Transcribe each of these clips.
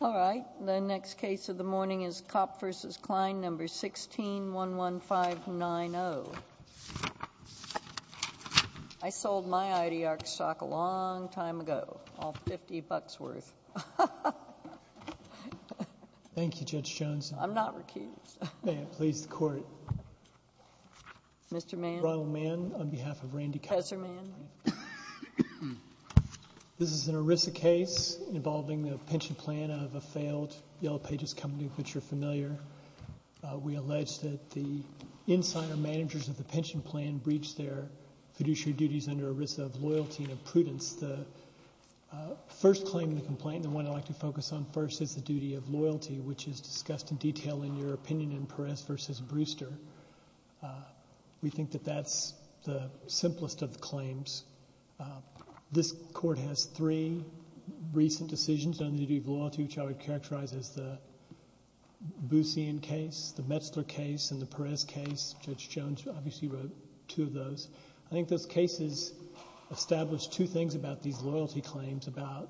All right. The next case of the morning is Kopp v. Klein, No. 16-11590. I sold my IDR stock a long time ago, all 50 bucks worth. Thank you, Judge Jones. I'm not recused. May it please the Court. Mr. Mann. Ronald Mann on behalf of Randy Kopp. Husserl Mann. This is an ERISA case involving the pension plan of a failed Yellow Pages company, which you're familiar. We allege that the insider managers of the pension plan breached their fiduciary duties under ERISA of loyalty and prudence. The first claim in the complaint, and the one I'd like to focus on first, is the duty of loyalty, which is discussed in detail in your opinion in Perez v. Brewster. We think that that's the simplest of the claims. This Court has three recent decisions on the duty of loyalty, two which I would characterize as the Boussian case, the Metzler case, and the Perez case. Judge Jones obviously wrote two of those. I think those cases established two things about these loyalty claims about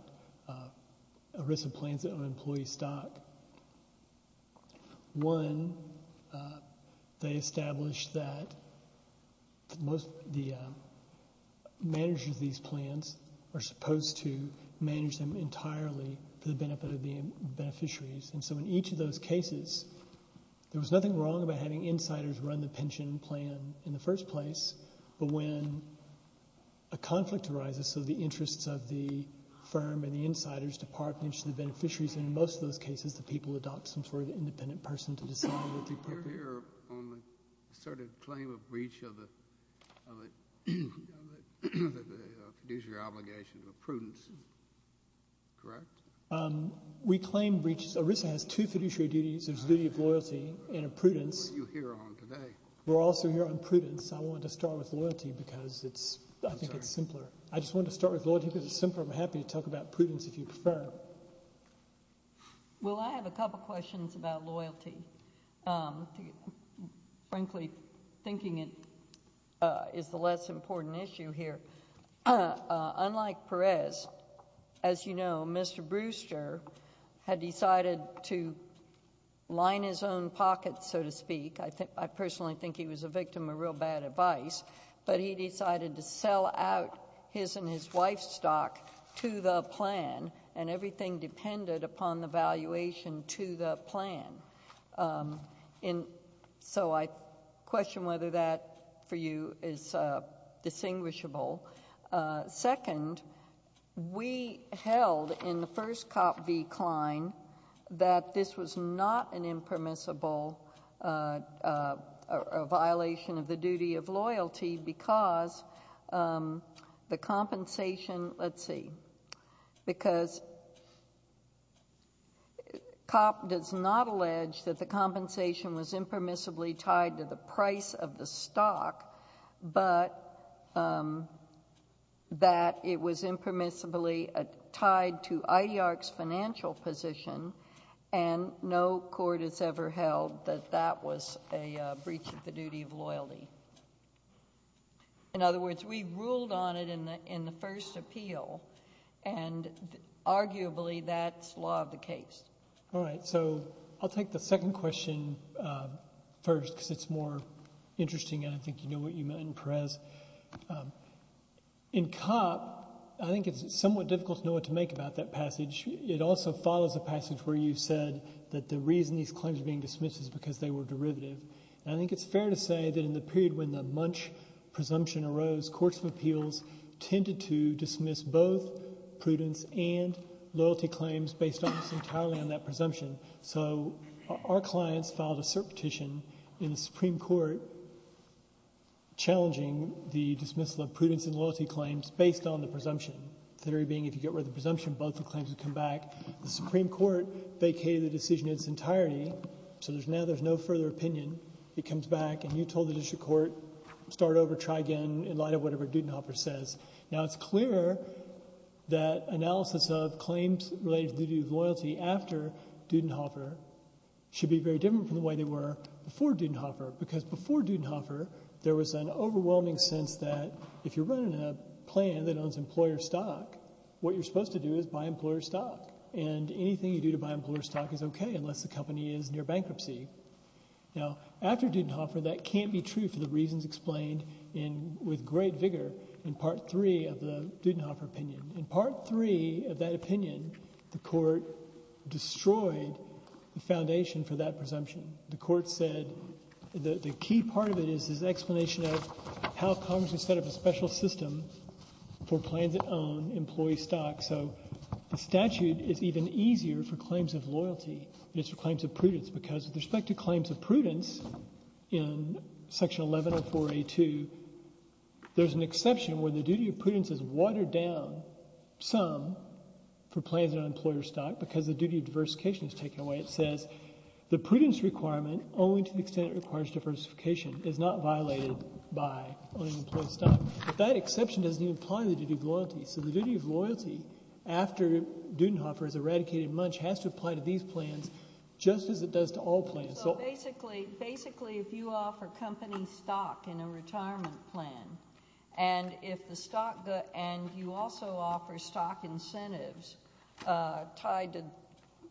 ERISA plans that own employee stock. One, they established that the managers of these plans are supposed to manage them entirely for the benefit of the beneficiaries. And so in each of those cases, there was nothing wrong about having insiders run the pension plan in the first place. But when a conflict arises, so the interests of the firm and the insiders depart in the interest of the beneficiaries, and in most of those cases, the people adopt some sort of independent person to decide what to do. You're here on the asserted claim of breach of the fiduciary obligation of a prudence, correct? We claim ERISA has two fiduciary duties. There's a duty of loyalty and a prudence. What are you here on today? We're also here on prudence. I wanted to start with loyalty because I think it's simpler. I just wanted to start with loyalty because it's simpler. I'm happy to talk about prudence if you prefer. Well, I have a couple of questions about loyalty. Frankly, thinking it is the less important issue here. Unlike Perez, as you know, Mr. Brewster had decided to line his own pocket, so to speak. I personally think he was a victim of real bad advice. But he decided to sell out his and his wife's stock to the plan, and everything depended upon the valuation to the plan. So I question whether that, for you, is distinguishable. Second, we held in the first cop decline that this was not an impermissible violation of the duty of loyalty because the compensation, let's see, because cop does not allege that the compensation was impermissibly tied to the price of the stock, but that it was impermissibly tied to IDR's financial position, and no court has ever held that that was a breach of the duty of loyalty. In other words, we ruled on it in the first appeal, and arguably that's law of the case. All right. So I'll take the second question first because it's more interesting and I think you know what you meant in Perez. In cop, I think it's somewhat difficult to know what to make about that passage. It also follows a passage where you said that the reason these claims are being dismissed is because they were derivative. And I think it's fair to say that in the period when the Munch presumption arose, courts of appeals tended to dismiss both prudence and loyalty claims based almost entirely on that presumption. So our clients filed a cert petition in the Supreme Court challenging the dismissal of prudence and loyalty claims based on the presumption, theory being if you get rid of the presumption, both the claims would come back. The Supreme Court vacated the decision in its entirety, so now there's no further opinion. It comes back and you told the district court start over, try again in light of whatever Dudenhofer says. Now it's clear that analysis of claims related to duty of loyalty after Dudenhofer should be very different from the way they were before Dudenhofer because before Dudenhofer there was an overwhelming sense that if you're running a plan that owns employer stock, what you're supposed to do is buy employer stock. And anything you do to buy employer stock is okay unless the company is near bankruptcy. Now after Dudenhofer, that can't be true for the reasons explained with great vigor in Part 3 of the Dudenhofer opinion. In Part 3 of that opinion, the court destroyed the foundation for that presumption. The court said the key part of it is this explanation of how Congress would set up a special system for plans that own employee stock. So the statute is even easier for claims of loyalty than it is for claims of prudence because with respect to claims of prudence in Section 1104A2, there's an exception where the duty of prudence is watered down some for plans that own employer stock because the duty of diversification is taken away. It says the prudence requirement only to the extent it requires diversification is not violated by owning employer stock. But that exception doesn't even apply to the duty of loyalty. So the duty of loyalty, after Dudenhofer has eradicated Munch, has to apply to these plans just as it does to all plans. So basically if you offer company stock in a retirement plan and you also offer stock incentives tied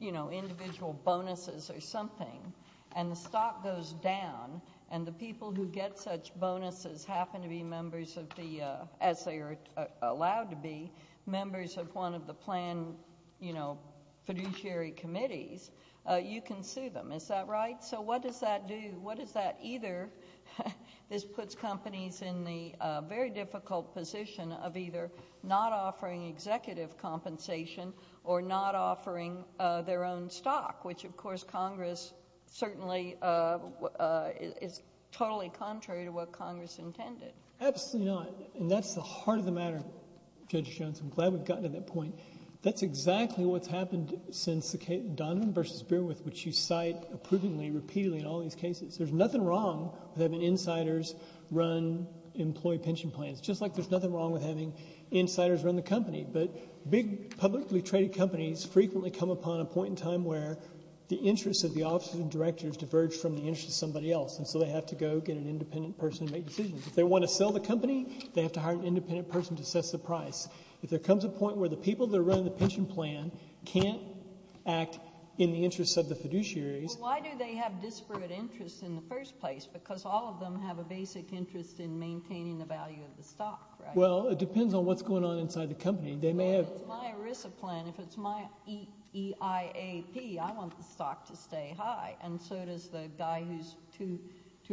to individual bonuses or something and the stock goes down and the people who get such bonuses happen to be members of the, as they are allowed to be, members of one of the planned fiduciary committees, you can sue them. Is that right? So what does that do? This puts companies in the very difficult position of either not offering executive compensation or not offering their own stock, which of course Congress certainly is totally contrary to what Congress intended. Absolutely not. And that's the heart of the matter, Judge Johnson. I'm glad we've gotten to that point. That's exactly what's happened since Donovan v. Beerwith, which you cite approvingly repeatedly in all these cases. There's nothing wrong with having insiders run employee pension plans, just like there's nothing wrong with having insiders run the company. But big publicly traded companies frequently come upon a point in time where the interests of the officers and directors diverge from the interests of somebody else, and so they have to go get an independent person to make decisions. If they want to sell the company, they have to hire an independent person to assess the price. If there comes a point where the people that are running the pension plan can't act in the interests of the fiduciaries. Why do they have disparate interests in the first place? Because all of them have a basic interest in maintaining the value of the stock, right? Well, it depends on what's going on inside the company. Well, if it's my ERISA plan, if it's my EIAP, I want the stock to stay high, and so does the guy who's two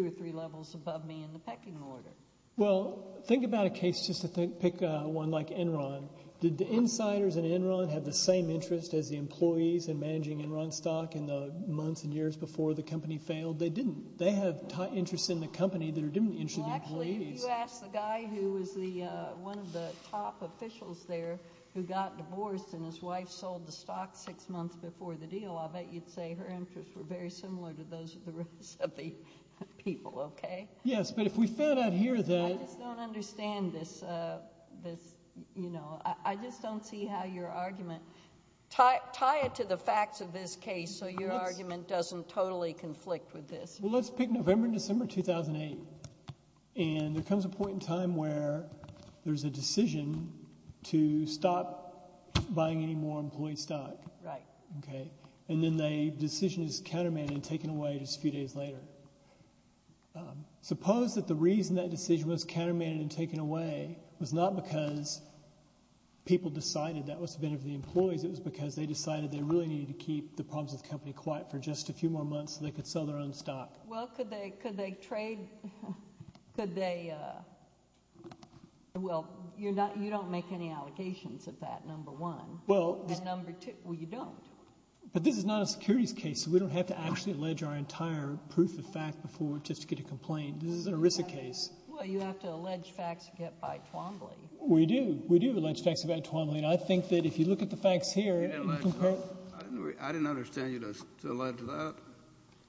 or three levels above me in the pecking order. Well, think about a case just to pick one like Enron. Did the insiders in Enron have the same interest as the employees in managing Enron stock in the months and years before the company failed? They didn't. They have interests in the company that are different than the interests of the employees. Actually, if you ask the guy who was one of the top officials there who got divorced and his wife sold the stock six months before the deal, I bet you'd say her interests were very similar to those of the rest of the people, okay? Yes, but if we found out here that— I just don't understand this. I just don't see how your argument— tie it to the facts of this case so your argument doesn't totally conflict with this. Well, let's pick November and December 2008, and there comes a point in time where there's a decision to stop buying any more employee stock. Right. Okay, and then the decision is countermanded and taken away just a few days later. Suppose that the reason that decision was countermanded and taken away was not because people decided that was the benefit of the employees. It was because they decided they really needed to keep the problems with the company quiet for just a few more months so they could sell their own stock. Well, could they trade—could they— well, you don't make any allegations of that, number one, and number two, well, you don't. But this is not a securities case, so we don't have to actually allege our entire proof of fact before we just get a complaint. This is an ERISA case. Well, you have to allege facts by Twombly. We do. We do allege facts by Twombly, and I think that if you look at the facts here— I didn't understand you to allege that.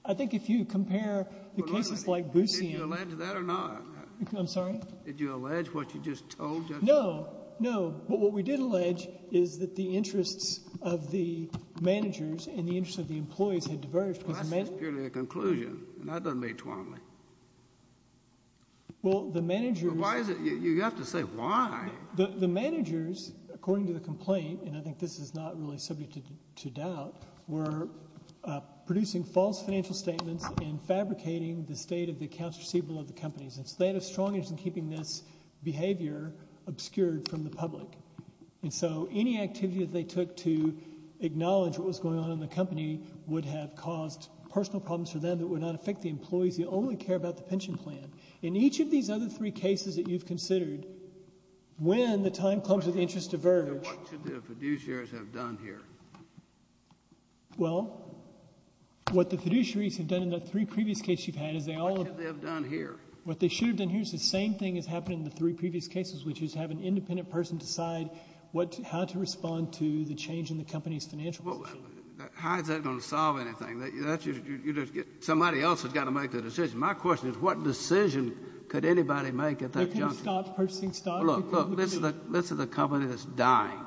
I think if you compare the cases like Boosian— Did you allege that or not? I'm sorry? Did you allege what you just told, Judge? No, no. But what we did allege is that the interests of the managers and the interests of the employees had diverged because the managers— That's just purely a conclusion, and that doesn't make Twombly. Well, the managers— Why is it—you have to say why. The managers, according to the complaint, and I think this is not really subject to doubt, were producing false financial statements and fabricating the state of the accounts receivable of the companies. And so they had a strong interest in keeping this behavior obscured from the public. And so any activity that they took to acknowledge what was going on in the company would have caused personal problems for them that would not affect the employees. They only care about the pension plan. In each of these other three cases that you've considered, when the time clumps or the interests diverge— What should the fiduciaries have done here? Well, what the fiduciaries have done in the three previous cases you've had is they all— What should they have done here? What they should have done here is the same thing has happened in the three previous cases, which is have an independent person decide what — how to respond to the change in the company's financial position. How is that going to solve anything? That's just — somebody else has got to make the decision. My question is what decision could anybody make at that juncture? They couldn't stop purchasing stocks? Well, look, this is a company that's dying.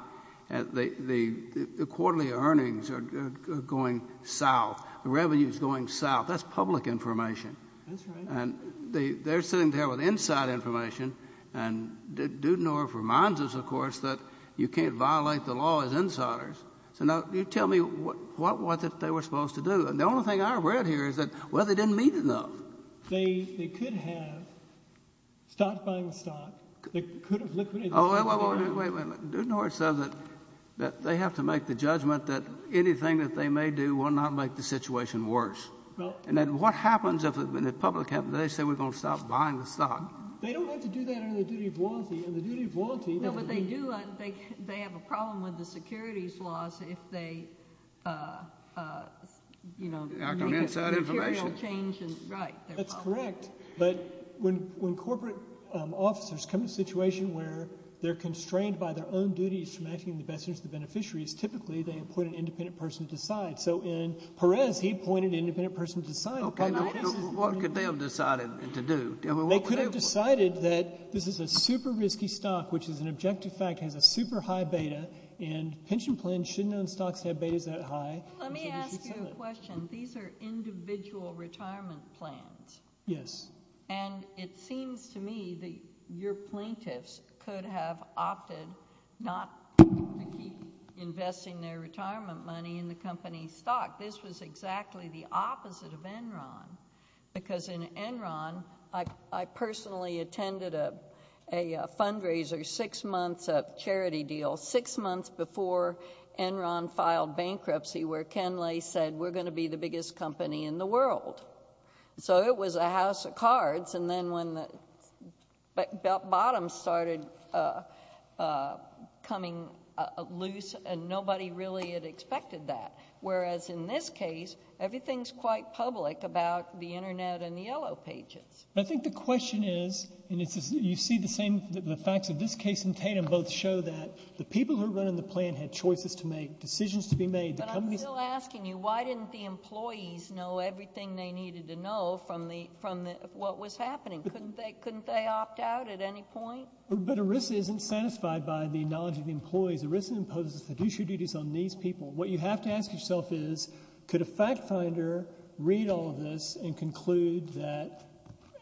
The quarterly earnings are going south. The revenue is going south. That's public information. That's right. And they're sitting there with inside information. And Dudenorff reminds us, of course, that you can't violate the law as insiders. So now you tell me what was it they were supposed to do? The only thing I read here is that, well, they didn't meet enough. They could have stopped buying the stock. They could have liquidated — Oh, wait, wait, wait, wait. Dudenorff says that they have to make the judgment that anything that they may do will not make the situation worse. And then what happens if the public happens? They say we're going to stop buying the stock. They don't have to do that under the duty of loyalty, and the duty of loyalty — Act on inside information. Right. That's correct. But when corporate officers come to a situation where they're constrained by their own duties from acting as the best interest of the beneficiaries, typically they appoint an independent person to decide. So in Perez, he appointed an independent person to decide. Okay, now what could they have decided to do? They could have decided that this is a super risky stock, which is an objective fact, has a super high beta, and pension plans shouldn't own stocks that have betas that high. Let me ask you a question. These are individual retirement plans. Yes. And it seems to me that your plaintiffs could have opted not to keep investing their retirement money in the company's stock. This was exactly the opposite of Enron, because in Enron, I personally attended a fundraiser six months — a charity deal — six months before Enron filed bankruptcy, where Ken Lay said, we're going to be the biggest company in the world. So it was a house of cards, and then when the bottom started coming loose, nobody really had expected that. Whereas in this case, everything's quite public about the Internet and the Yellow Pages. I think the question is, and you see the same, the facts of this case and Tatum both show that the people who are running the plan had choices to make, decisions to be made. But I'm still asking you, why didn't the employees know everything they needed to know from the — from what was happening? Couldn't they opt out at any point? But ERISA isn't satisfied by the knowledge of the employees. ERISA imposes fiduciary duties on these people. What you have to ask yourself is, could a fact finder read all of this and conclude that,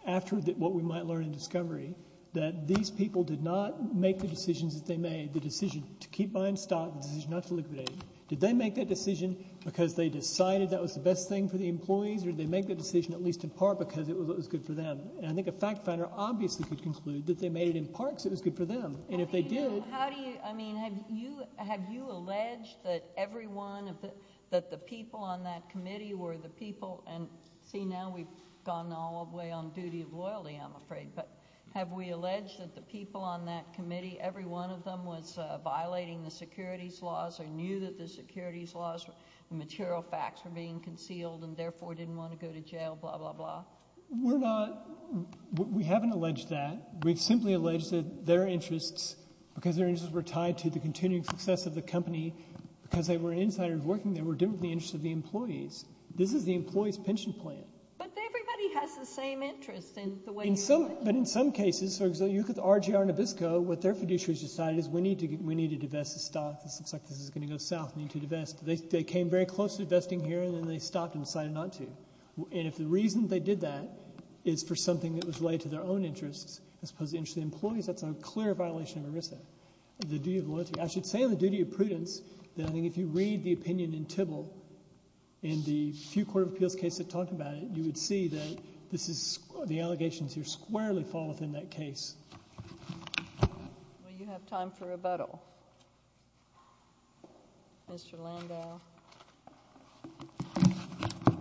after what we might learn in discovery, that these people did not make the decisions that they made, the decision to keep buying stock, the decision not to liquidate, did they make that decision because they decided that was the best thing for the employees, or did they make that decision at least in part because it was good for them? And I think a fact finder obviously could conclude that they made it in part because it was good for them. And if they did — How do you — I mean, have you — have you alleged that everyone — that the people on that committee were the people — and see, now we've gone all the way on duty of loyalty, I'm afraid. But have we alleged that the people on that committee, every one of them was violating the securities laws or knew that the securities laws and material facts were being concealed and therefore didn't want to go to jail, blah, blah, blah? We're not — we haven't alleged that. We've simply alleged that their interests, because their interests were tied to the continuing success of the company, because they were insiders working there, were different from the interests of the employees. This is the employees' pension plan. But everybody has the same interests in the way you — In some — but in some cases, so you look at the RGR Nabisco, what their fiduciaries decided is we need to divest the stock. This looks like this is going to go south. We need to divest. They came very close to divesting here, and then they stopped and decided not to. And if the reason they did that is for something that was related to their own interests as opposed to the interests of the employees, that's a clear violation of ERISA, the duty of loyalty. I should say on the duty of prudence that I think if you read the opinion in Tybill in the few court of appeals cases that talk about it, you would see that this is — the allegations here squarely fall within that case. Well, you have time for rebuttal. Mr. Landau.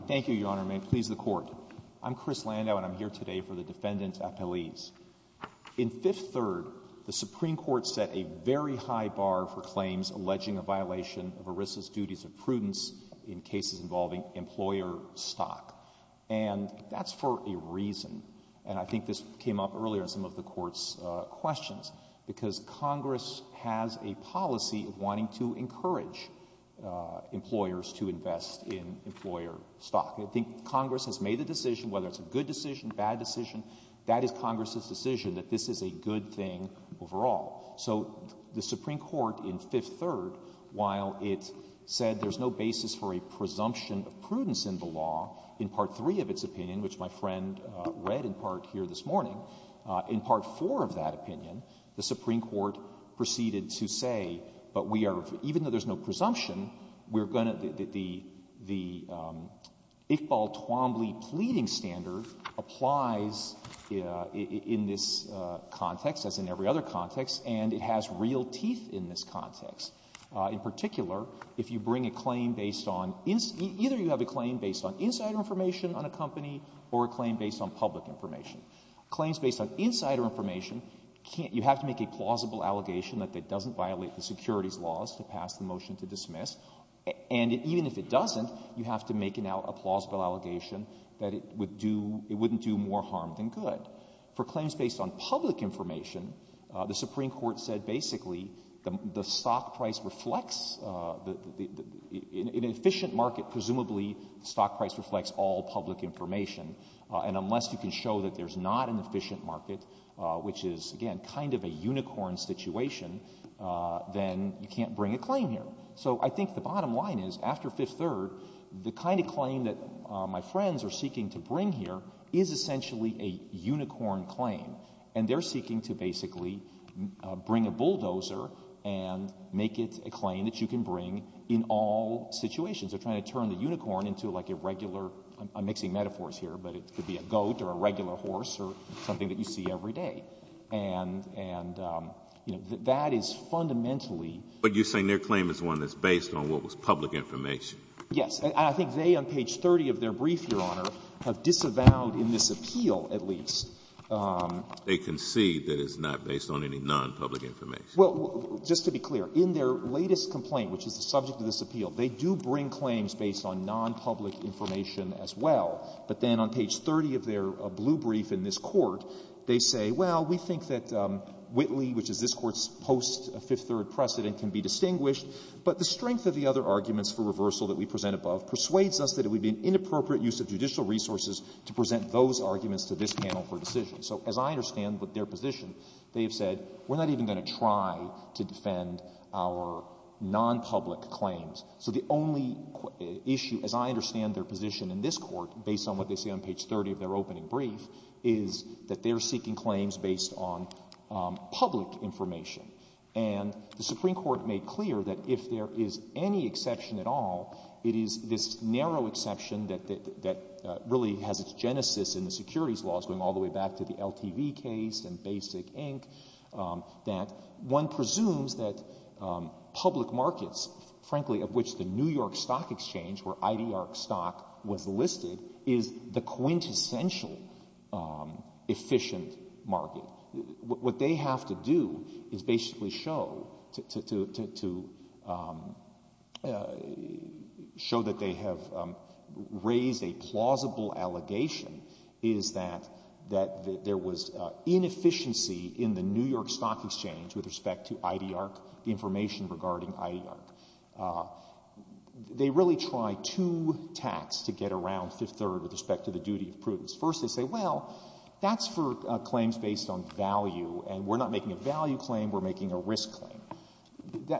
Thank you, Your Honor. May it please the Court. I'm Chris Landau, and I'm here today for the defendant's appellees. In Fifth Third, the Supreme Court set a very high bar for claims alleging a violation of ERISA's duties of prudence in cases involving employer stock. And that's for a reason. And I think this came up earlier in some of the Court's questions, because Congress has a policy of wanting to encourage employers to invest in employer stock. I think Congress has made the decision, whether it's a good decision, bad decision, that is Congress's decision that this is a good thing overall. So the Supreme Court in Fifth Third, while it said there's no basis for a presumption of prudence in the law, in Part 3 of its opinion, which my friend read in part here this morning, in Part 4 of that opinion, the Supreme Court proceeded to say, but we are — even though there's no presumption, we're going to — the Iqbal-Twombly pleading standard applies in this context, as in every other context, and it has real teeth in this context. In particular, if you bring a claim based on — either you have a claim based on insider information on a company or a claim based on public information. Claims based on insider information can't — you have to make a plausible allegation that it doesn't violate the securities laws to pass the motion to dismiss. And even if it doesn't, you have to make now a plausible allegation that it would do — it wouldn't do more harm than good. For claims based on public information, the Supreme Court said basically the stock price reflects — in an efficient market, presumably the stock price reflects all public information. And unless you can show that there's not an efficient market, which is, again, kind of a unicorn situation, then you can't bring a claim here. So I think the bottom line is, after Fifth Third, the kind of claim that my friends are seeking to bring here is essentially a unicorn claim, and they're seeking to basically bring a bulldozer and make it a claim that you can bring in all situations. They're trying to turn the unicorn into, like, a regular — I'm mixing metaphors here, but it could be a goat or a regular horse or something that you see every day. And — and, you know, that is fundamentally — But you're saying their claim is one that's based on what was public information? Yes. And I think they, on page 30 of their brief, Your Honor, have disavowed in this appeal at least — They concede that it's not based on any nonpublic information. Well, just to be clear, in their latest complaint, which is the subject of this appeal, they do bring claims based on nonpublic information as well. But then on page 30 of their blue brief in this Court, they say, well, we think that Whitley, which is this Court's post-Fifth Third precedent, can be distinguished, but the strength of the other arguments for reversal that we present above persuades us that it would be an inappropriate use of judicial resources to present those arguments to this panel for decision. So as I understand their position, they have said, we're not even going to try to defend our nonpublic claims. So the only issue, as I understand their position in this Court, based on what they say on page 30 of their opening brief, is that they're seeking claims based on public information. And the Supreme Court made clear that if there is any exception at all, it is this narrow exception that really has its genesis in the securities laws, going all the way back to the LTV case and Basic, Inc., that one presumes that public markets, frankly, of which the New York Stock Exchange, where IDR stock was listed, is the quintessential efficient market. What they have to do is basically show that they have raised a plausible allegation is that there was inefficiency in the New York Stock Exchange with respect to IDR, the information regarding IDR. They really try to tax to get around Fifth Third with respect to the duty of prudence. First, they say, well, that's for claims based on value, and we're not making a value claim, we're making a risk claim.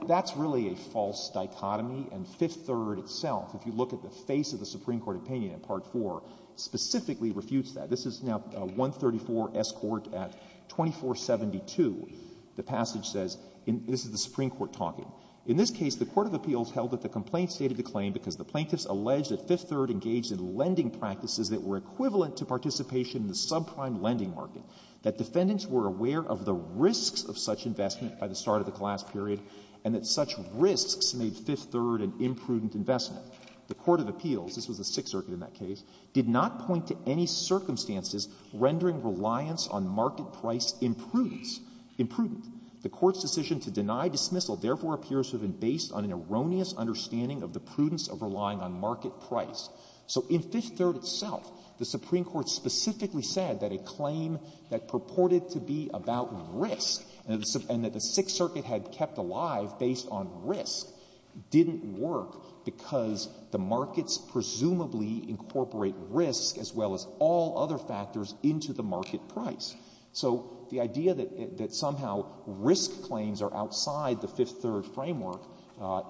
That's really a false dichotomy. And Fifth Third itself, if you look at the face of the Supreme Court opinion in Part 4, specifically refutes that. This is now 134S Court at 2472. The passage says, this is the Supreme Court talking. In this case, the court of appeals held that the complaint stated the claim because the plaintiffs alleged that Fifth Third engaged in lending practices that were equivalent to participation in the subprime lending market, that defendants were aware of the risks of such investment by the start of the class period, and that such risks made Fifth Third an imprudent investment. The court of appeals, this was the Sixth Circuit in that case, did not point to any circumstances rendering reliance on market price imprudence, imprudent. The court's decision to deny dismissal therefore appears to have been based on an erroneous understanding of the prudence of relying on market price. So in Fifth Third itself, the Supreme Court specifically said that a claim that purported to be about risk, and that the Sixth Circuit had kept alive based on risk, didn't work because the markets presumably incorporate risk as well as all other factors into the market price. So the idea that somehow risk claims are outside the Fifth Third framework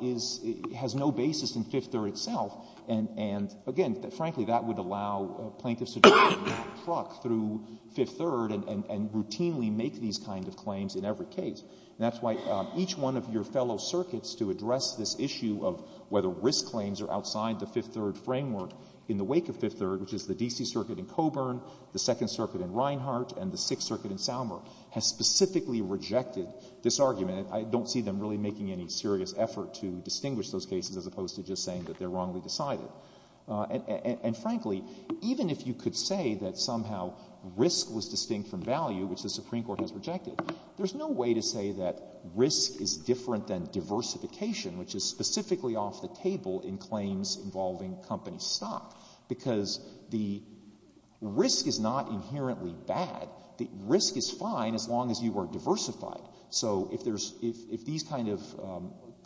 is — has no basis in Fifth Third itself. And, again, frankly, that would allow plaintiffs to drive that truck through Fifth Third and routinely make these kind of claims in every case. And that's why each one of your fellow circuits to address this issue of whether risk claims are outside the Fifth Third framework in the wake of Fifth Third, which is the D.C. Circuit in Coburn, the Second Circuit in Reinhart, and the Sixth Circuit in Salmer, has specifically rejected this argument. I don't see them really making any serious effort to distinguish those cases as opposed to just saying that they're wrongly decided. And, frankly, even if you could say that somehow risk was distinct from value, which the Supreme Court has rejected, there's no way to say that risk is different than diversification, which is specifically off the table in claims involving company stock, because the risk is not inherently bad. The risk is fine as long as you are diversified. So if there's — if these kind of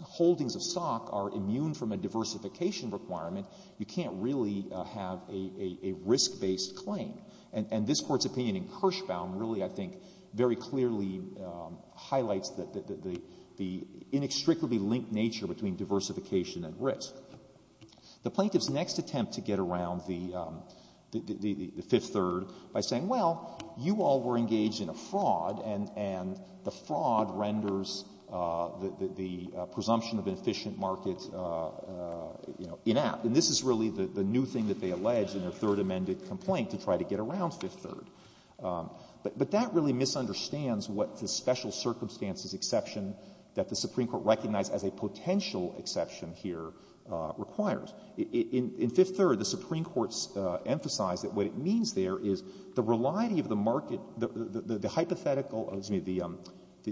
holdings of stock are immune from a diversification requirement, you can't really have a risk-based claim. And this Court's opinion in Kirschbaum really, I think, very clearly highlights the inextricably linked nature between diversification and risk. The plaintiff's next attempt to get around the Fifth Third by saying, well, you all were engaged in a fraud, and the fraud renders the presumption of an efficient market, you know, inept. And this is really the new thing that they allege in their Third Amended complaint to try to get around Fifth Third. But that really misunderstands what the special circumstances exception that the requires. In Fifth Third, the Supreme Court's emphasized that what it means there is the reliability of the market — the hypothetical — excuse me,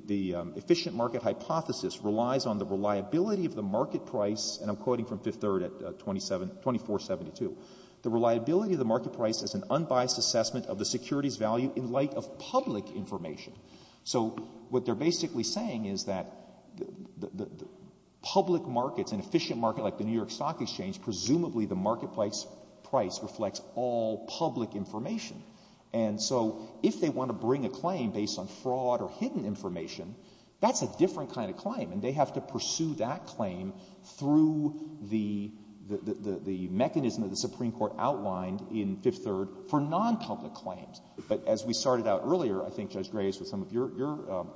the efficient market hypothesis relies on the reliability of the market price, and I'm quoting from Fifth Third at 2472. The reliability of the market price is an unbiased assessment of the security's value in light of public information. So what they're basically saying is that the public markets, an efficient market like the New York Stock Exchange, presumably the market price reflects all public information. And so if they want to bring a claim based on fraud or hidden information, that's a different kind of claim, and they have to pursue that claim through the mechanism that the Supreme Court outlined in Fifth Third for nonpublic claims. But as we started out earlier, I think, Judge Graves, with some of your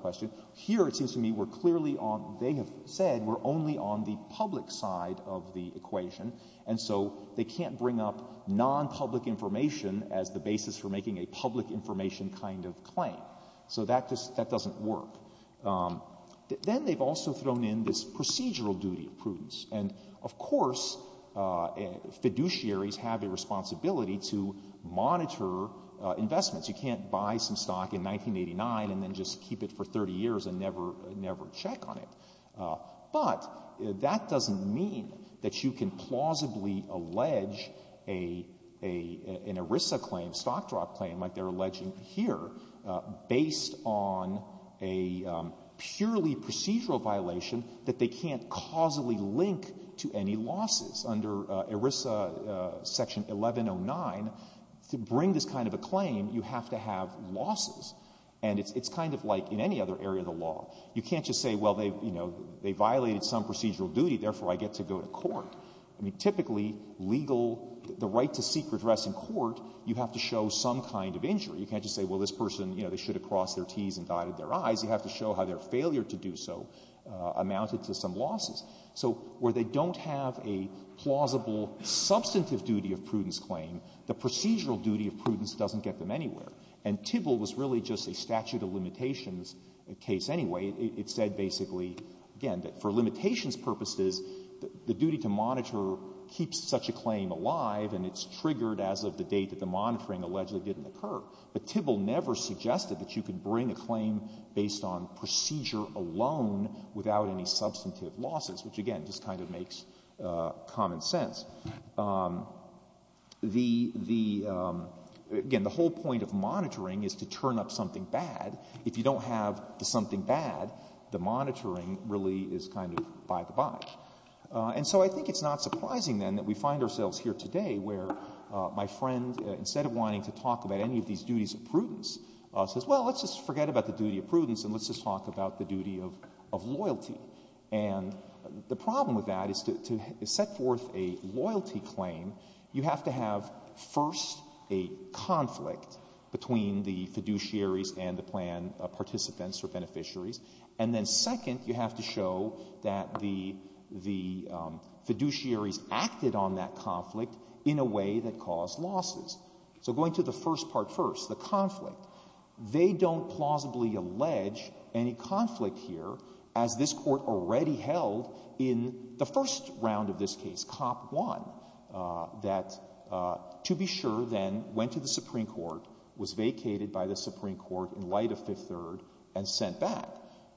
questions, here it seems to me we're clearly on — they have said we're only on the public side of the equation, and so they can't bring up nonpublic information as the basis for making a public information kind of claim. So that doesn't work. Then they've also thrown in this procedural duty of prudence. And, of course, fiduciaries have a responsibility to monitor investments. You can't buy some stock in 1989 and then just keep it for 30 years and never check on it. But that doesn't mean that you can plausibly allege an ERISA claim, stock drop claim, like they're alleging here, based on a purely procedural violation that they can't causally link to any losses. Under ERISA Section 1109, to bring this kind of a claim, you have to have losses. And it's kind of like in any other area of the law. You can't just say, well, they violated some procedural duty, therefore I get to go to court. I mean, typically, legal — the right to seek redress in court, you have to show some kind of injury. You can't just say, well, this person, you know, they should have crossed their T's and dotted their I's. You have to show how their failure to do so amounted to some losses. So where they don't have a plausible substantive duty of prudence claim, the procedural duty of prudence doesn't get them anywhere. And Tybill was really just a statute of limitations case anyway. It said basically, again, that for limitations purposes, the duty to monitor keeps such a claim alive and it's triggered as of the date that the monitoring allegedly didn't occur. But Tybill never suggested that you could bring a claim based on procedure alone without any substantive losses, which, again, just kind of makes common sense. The — again, the whole point of monitoring is to turn up something bad. If you don't have something bad, the monitoring really is kind of by the by. And so I think it's not surprising, then, that we find ourselves here today where my friend, instead of wanting to talk about any of these duties of prudence, says, well, let's just forget about the duty of prudence and let's just talk about the duty of loyalty. And the problem with that is to set forth a loyalty claim, you have to have first a conflict between the fiduciaries and the plan participants or beneficiaries, and then second, you have to show that the fiduciaries acted on that conflict in a way that caused losses. So going to the first part first, the conflict, they don't plausibly allege any conflict here as this Court already held in the first round of this case, Cop 1, that to be sure then went to the Supreme Court, was vacated by the Supreme Court in light of Fifth Third, and sent back.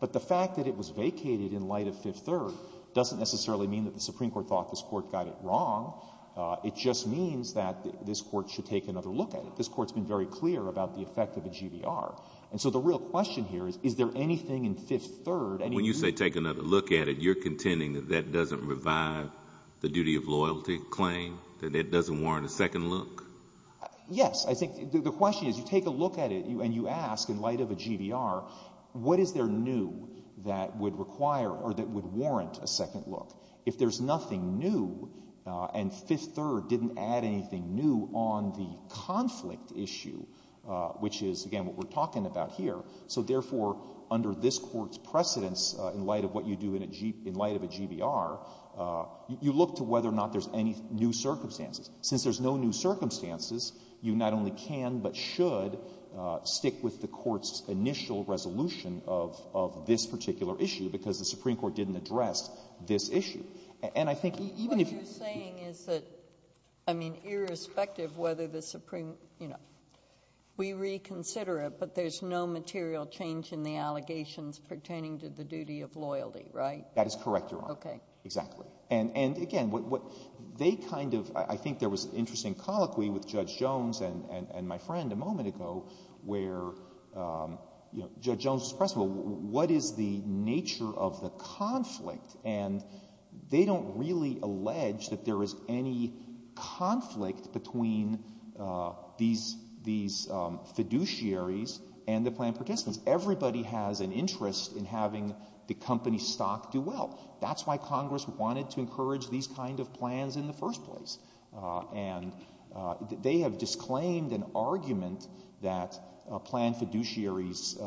But the fact that it was vacated in light of Fifth Third doesn't necessarily mean that the Supreme Court thought this Court got it wrong. It just means that this Court should take another look at it. This Court's been very clear about the effect of a GDR. And so the real question here is, is there anything in Fifth Third, anything new? When you say take another look at it, you're contending that that doesn't revive the duty of loyalty claim, that it doesn't warrant a second look? Yes. I think the question is, you take a look at it and you ask, in light of a GDR, what is there new that would require or that would warrant a second look? If there's nothing new, then Fifth Third didn't add anything new on the conflict issue, which is, again, what we're talking about here. So therefore, under this Court's precedence in light of what you do in a G — in light of a GDR, you look to whether or not there's any new circumstances. Since there's no new circumstances, you not only can but should stick with the Court's initial resolution of this particular issue, because the Supreme Court didn't address this issue. And I think even if you — But the point is that, I mean, irrespective whether the Supreme — you know, we reconsider it, but there's no material change in the allegations pertaining to the duty of loyalty, right? That is correct, Your Honor. Okay. Exactly. And again, what they kind of — I think there was an interesting colloquy with Judge Jones and my friend a moment ago where, you know, Judge Jones pressed, well, what is the nature of the conflict? And they don't really allege that there is any conflict between these — these fiduciaries and the planned participants. Everybody has an interest in having the company stock do well. That's why Congress wanted to encourage these kind of plans in the first place. And they have disclaimed an argument that planned fiduciaries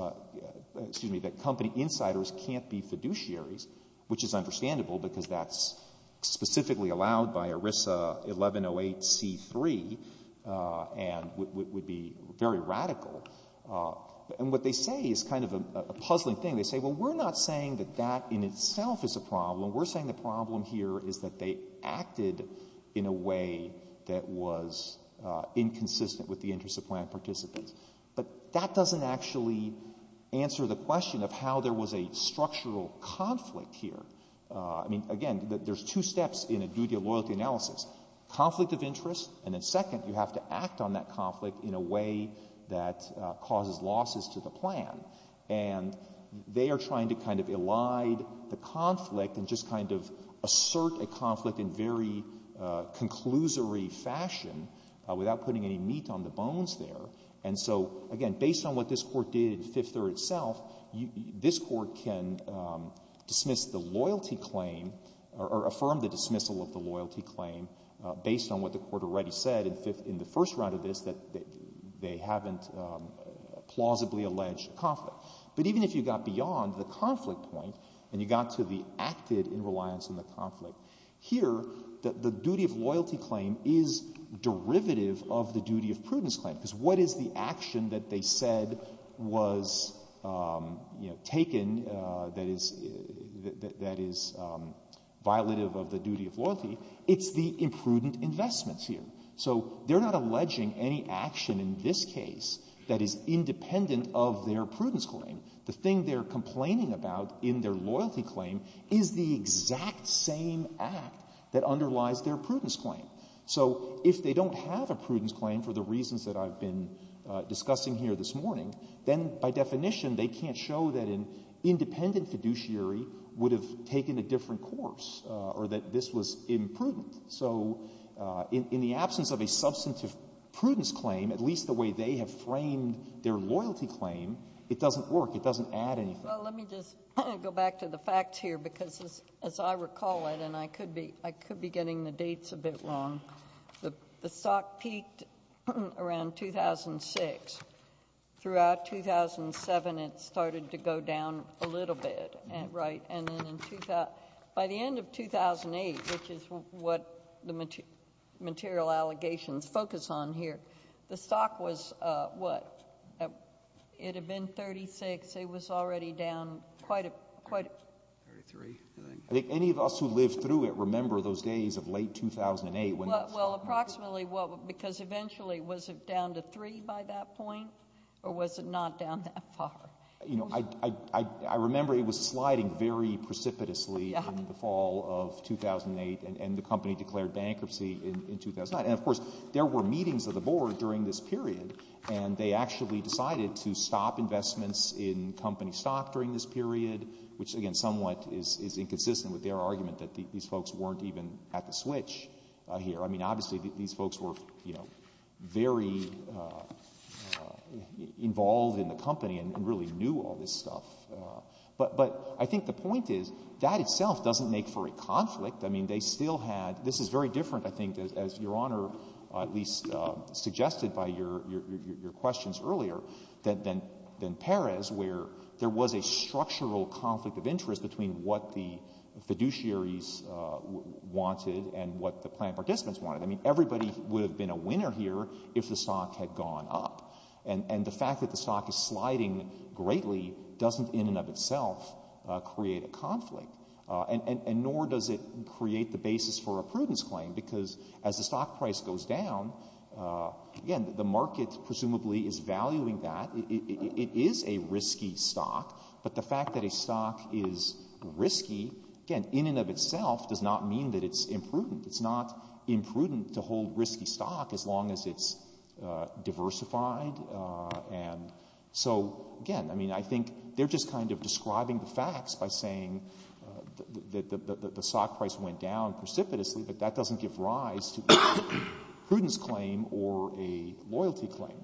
— excuse me, that company insiders can't be fiduciaries, which is understandable because that's specifically allowed by ERISA 1108C3 and would be very radical. And what they say is kind of a puzzling thing. They say, well, we're not saying that that in itself is a problem. We're saying the problem here is that they acted in a way that was inconsistent with the interests of planned participants. But that doesn't actually answer the question of how there was a structural conflict here. I mean, again, there's two steps in a duty of loyalty analysis. Conflict of interest, and then second, you have to act on that conflict in a way that causes losses to the plan. And they are trying to kind of elide the conflict and just kind of assert a conflict in very conclusory fashion without putting any meat on the bones there. And so, again, based on what this Court did in Fifth Third itself, this Court can dismiss the loyalty claim or affirm the dismissal of the loyalty claim based on what the Court already said in the first round of this, that they haven't plausibly alleged conflict. But even if you got beyond the conflict point and you got to the acted in reliance on the conflict, here the duty of loyalty claim is derivative of the duty of prudence claim. Because what is the action that they said was taken that is violative of the duty of prudence claim? So they're not alleging any action in this case that is independent of their prudence claim. The thing they're complaining about in their loyalty claim is the exact same act that underlies their prudence claim. So if they don't have a prudence claim for the reasons that I've been discussing here this morning, then by definition they can't show that an independent fiduciary would have taken a different course or that this was imprudent. So in the absence of a substantive prudence claim, at least the way they have framed their loyalty claim, it doesn't work. It doesn't add anything. Well, let me just go back to the facts here, because as I recall it, and I could be getting the dates a bit wrong, the stock peaked around 2006. Throughout 2007 it started to go down a little bit, right? And then by the end of 2008, which is what the material allegations focus on here, the stock was, what, it had been 36, it was already down quite a bit. I think any of us who lived through it remember those days of late 2008. Well, approximately, because eventually was it down to 3 by that point, or was it not down that far? I remember it was sliding very precipitously in the fall of 2008, and the company declared bankruptcy in 2009. And of course, there were meetings of the board during this period, and they actually decided to stop investments in company stock during this period, which again, somewhat is inconsistent with their argument that these folks weren't even at the switch here. I mean, obviously, these folks were, you know, very involved in the company and really knew all this stuff. But I think the point is, that itself doesn't make for a conflict. I mean, they still had — this is very different, I think, as Your Honor at least suggested by your questions earlier than Perez, where there was a structural conflict of interest between what the fiduciaries wanted and what the plan participants wanted. I mean, everybody would have been a winner here if the stock had gone up. And the fact that the stock is sliding greatly doesn't in and of itself create a conflict, and nor does it create the basis for a prudence claim, because as the stock price goes down, again, the market presumably is valuing that. It is a risky stock, but the fact that a stock is risky, again, in and of itself does not mean that it's imprudent. It's not imprudent to hold risky stock as long as it's diversified. And so, again, I mean, I think they're just kind of describing the facts by saying that the stock price went down precipitously, but that doesn't give rise to a prudence claim or a loyalty claim.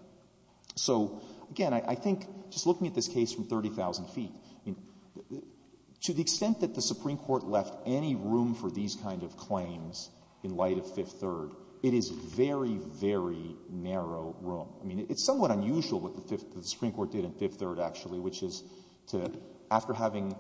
So, again, I think, just looking at this case from 30,000 feet, to the extent that the Supreme Court left any room for these kind of claims in light of Fifth Third, it is very, very narrow room. I mean, it's somewhat unusual what the Supreme Court did in Fifth Third, actually, which is to, after having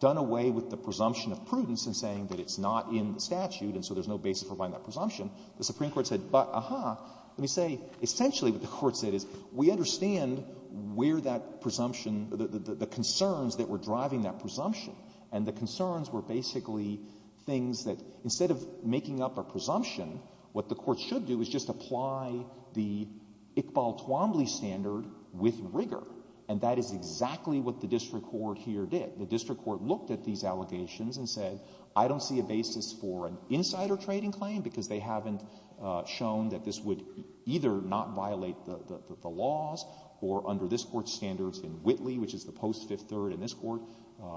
done away with the presumption of prudence in saying that it's not in the statute, and so there's no basis for buying that presumption, the Supreme Court said, but, aha, let me say, essentially what the Court said is, we understand where that presumption, the concerns that were driving that presumption, and the concerns were basically things that, instead of making up a presumption, what the Court should do is just apply the Iqbal Twombly standard with rigor. And that is exactly what the district court here did. The district court looked at these allegations and said, I don't see a basis for an insider trading claim, because they haven't shown that this would either not violate the laws, or under this Court's standards in Whitley, which is the post Fifth Third in this Court,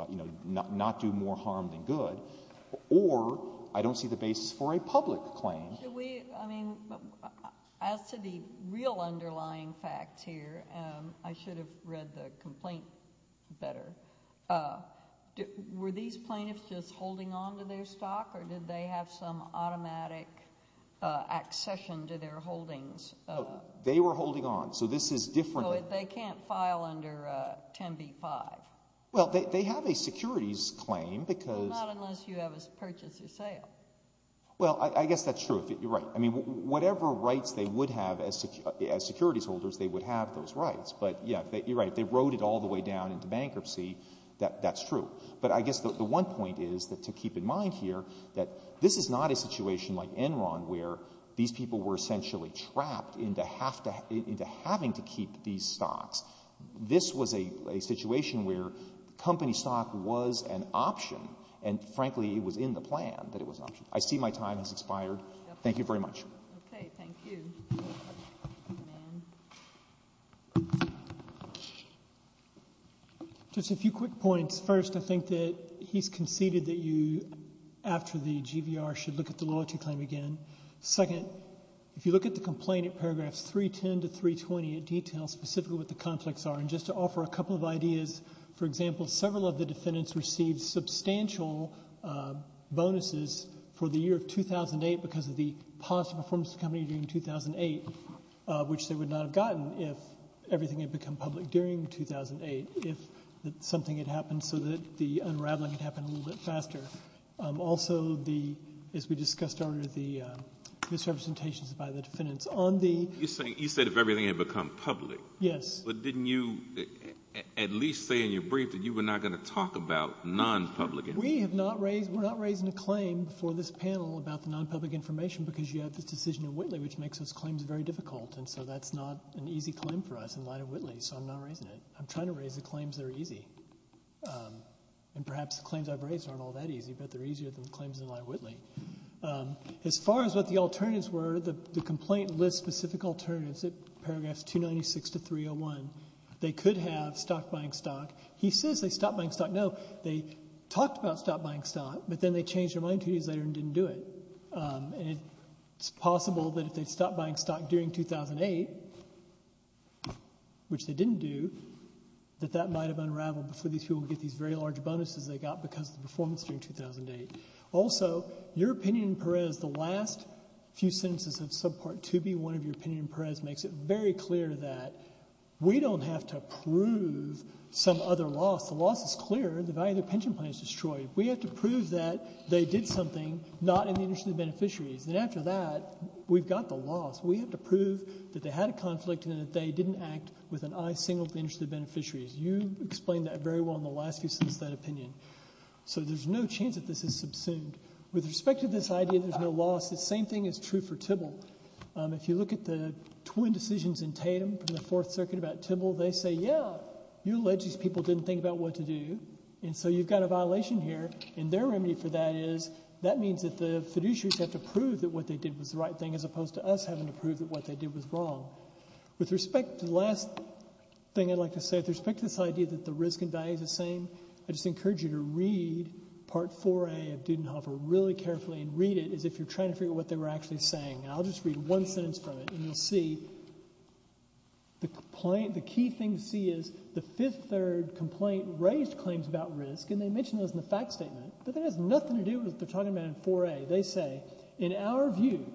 you know, not do more harm than good, or I don't see the basis for a As to the real underlying facts here, I should have read the complaint better. Were these plaintiffs just holding on to their stock, or did they have some automatic accession to their holdings? They were holding on, so this is different. So they can't file under 10b-5? Well, they have a securities claim, because Not unless you have a purchase or sale. Well, I guess that's true. You're right. I mean, whatever rights they would have as securities holders, they would have those rights. But, yeah, you're right. They wrote it all the way down into bankruptcy. That's true. But I guess the one point is to keep in mind here that this is not a situation like Enron where these people were essentially trapped into having to keep these stocks. This was a situation where company stock was an option, and frankly, it was in the I see my time has expired. Thank you very much. Okay. Thank you. Just a few quick points. First, I think that he's conceded that you, after the GVR, should look at the loyalty claim again. Second, if you look at the complaint at paragraphs 310 to 320, it details specifically what the conflicts are. And just to offer a couple of ideas, for example, several of the defendants received substantial bonuses for the year of 2008 because of the positive performance of the company during 2008, which they would not have gotten if everything had become public during 2008, if something had happened so that the unraveling had happened a little bit faster. Also, as we discussed earlier, the misrepresentations by the defendants on the You said if everything had become public. Yes. But didn't you at least say in your brief that you were not going to talk about non-public information? We have not raised, we're not raising a claim for this panel about the non-public information because you have this decision in Whitley, which makes those claims very difficult. And so that's not an easy claim for us in light of Whitley. So I'm not raising it. I'm trying to raise the claims that are easy. And perhaps the claims I've raised aren't all that easy, but they're easier than the claims in light of Whitley. As far as what the alternatives were, the complaint lists specific alternatives at 296 to 301. They could have stock buying stock. He says they stopped buying stock. No, they talked about stop buying stock, but then they changed their mind two days later and didn't do it. And it's possible that if they stopped buying stock during 2008, which they didn't do, that that might have unraveled before these people would get these very large bonuses they got because of the performance during 2008. Also, your opinion in Perez, the last few sentences of Subpart 2B, one of your comments was very clear that we don't have to prove some other loss. The loss is clear. The value of their pension plan is destroyed. We have to prove that they did something not in the interest of the beneficiaries. And after that, we've got the loss. We have to prove that they had a conflict and that they didn't act with an eye singled to the interest of the beneficiaries. You explained that very well in the last few sentences of that opinion. So there's no chance that this is subsumed. With respect to this idea that there's no loss, the same thing is true for Tibble. If you look at the twin decisions in Tatum from the Fourth Circuit about Tibble, they say, yeah, you alleged these people didn't think about what to do, and so you've got a violation here. And their remedy for that is that means that the fiduciaries have to prove that what they did was the right thing as opposed to us having to prove that what they did was wrong. With respect to the last thing I'd like to say, with respect to this idea that the risk and value is the same, I just encourage you to read Part 4A of Dudenhofer really carefully and read it as if you're trying to figure out what they were actually saying. And I'll just read one sentence from it, and you'll see the key thing to see is the Fifth Third complaint raised claims about risk, and they mentioned those in the fact statement, but that has nothing to do with what they're talking about in 4A. They say, in our view,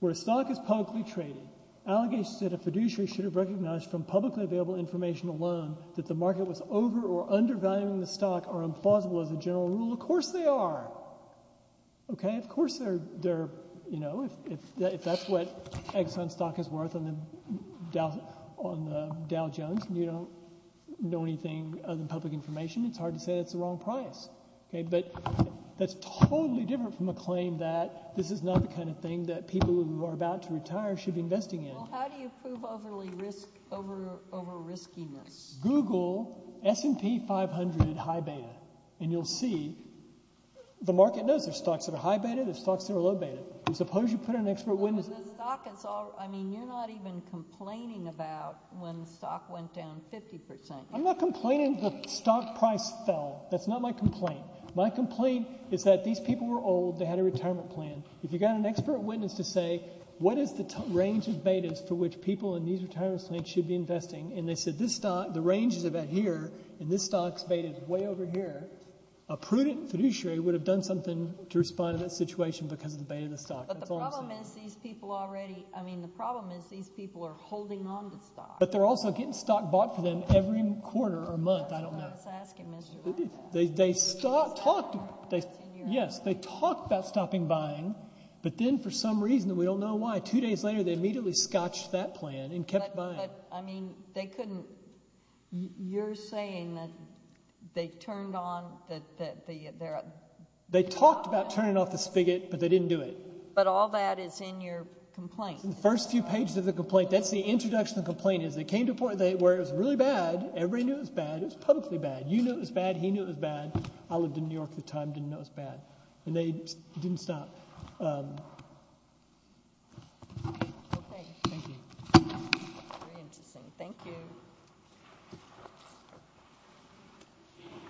where a stock is publicly traded, allegations that a fiduciary should have recognized from publicly available information alone that the market was over or undervaluing the stock are implausible as a general rule. Of course they are. Okay? Of course they're, you know, if that's what Exxon stock is worth on the Dow Jones and you don't know anything other than public information, it's hard to say that's the wrong price. Okay? But that's totally different from a claim that this is not the kind of thing that people who are about to retire should be investing in. Well, how do you prove overly risk, over riskiness? Google S&P 500 high beta, and you'll see the market knows there's stocks that are high beta, there's stocks that are low beta, and suppose you put an expert witness. But the stock is all, I mean, you're not even complaining about when the stock went down 50%. I'm not complaining the stock price fell. That's not my complaint. My complaint is that these people were old, they had a retirement plan. If you got an expert witness to say, what is the range of betas for which people in these retirement plans should be investing? And they said, this stock, the range is about here, and this stock's beta is way over here, a prudent fiduciary would have done something to respond to that situation because of the beta of the stock. But the problem is these people already, I mean, the problem is these people are holding on to the stock. But they're also getting stock bought for them every quarter or month, I don't know. That's what I was asking, Mr. Blunt. They talked about stopping buying, but then for some reason, we don't know why, two days later, they immediately scotched that plan and kept buying. But, I mean, they couldn't, you're saying that they turned on, that they're They talked about turning off the spigot, but they didn't do it. But all that is in your complaint. The first few pages of the complaint, that's the introduction of the complaint, is they came to a point where it was really bad, everybody knew it was bad, it was publicly bad. You knew it was bad, he knew it was bad. I lived in New York at the time, didn't know it was bad. And they didn't stop. Okay. Thank you. Very interesting. Thank you.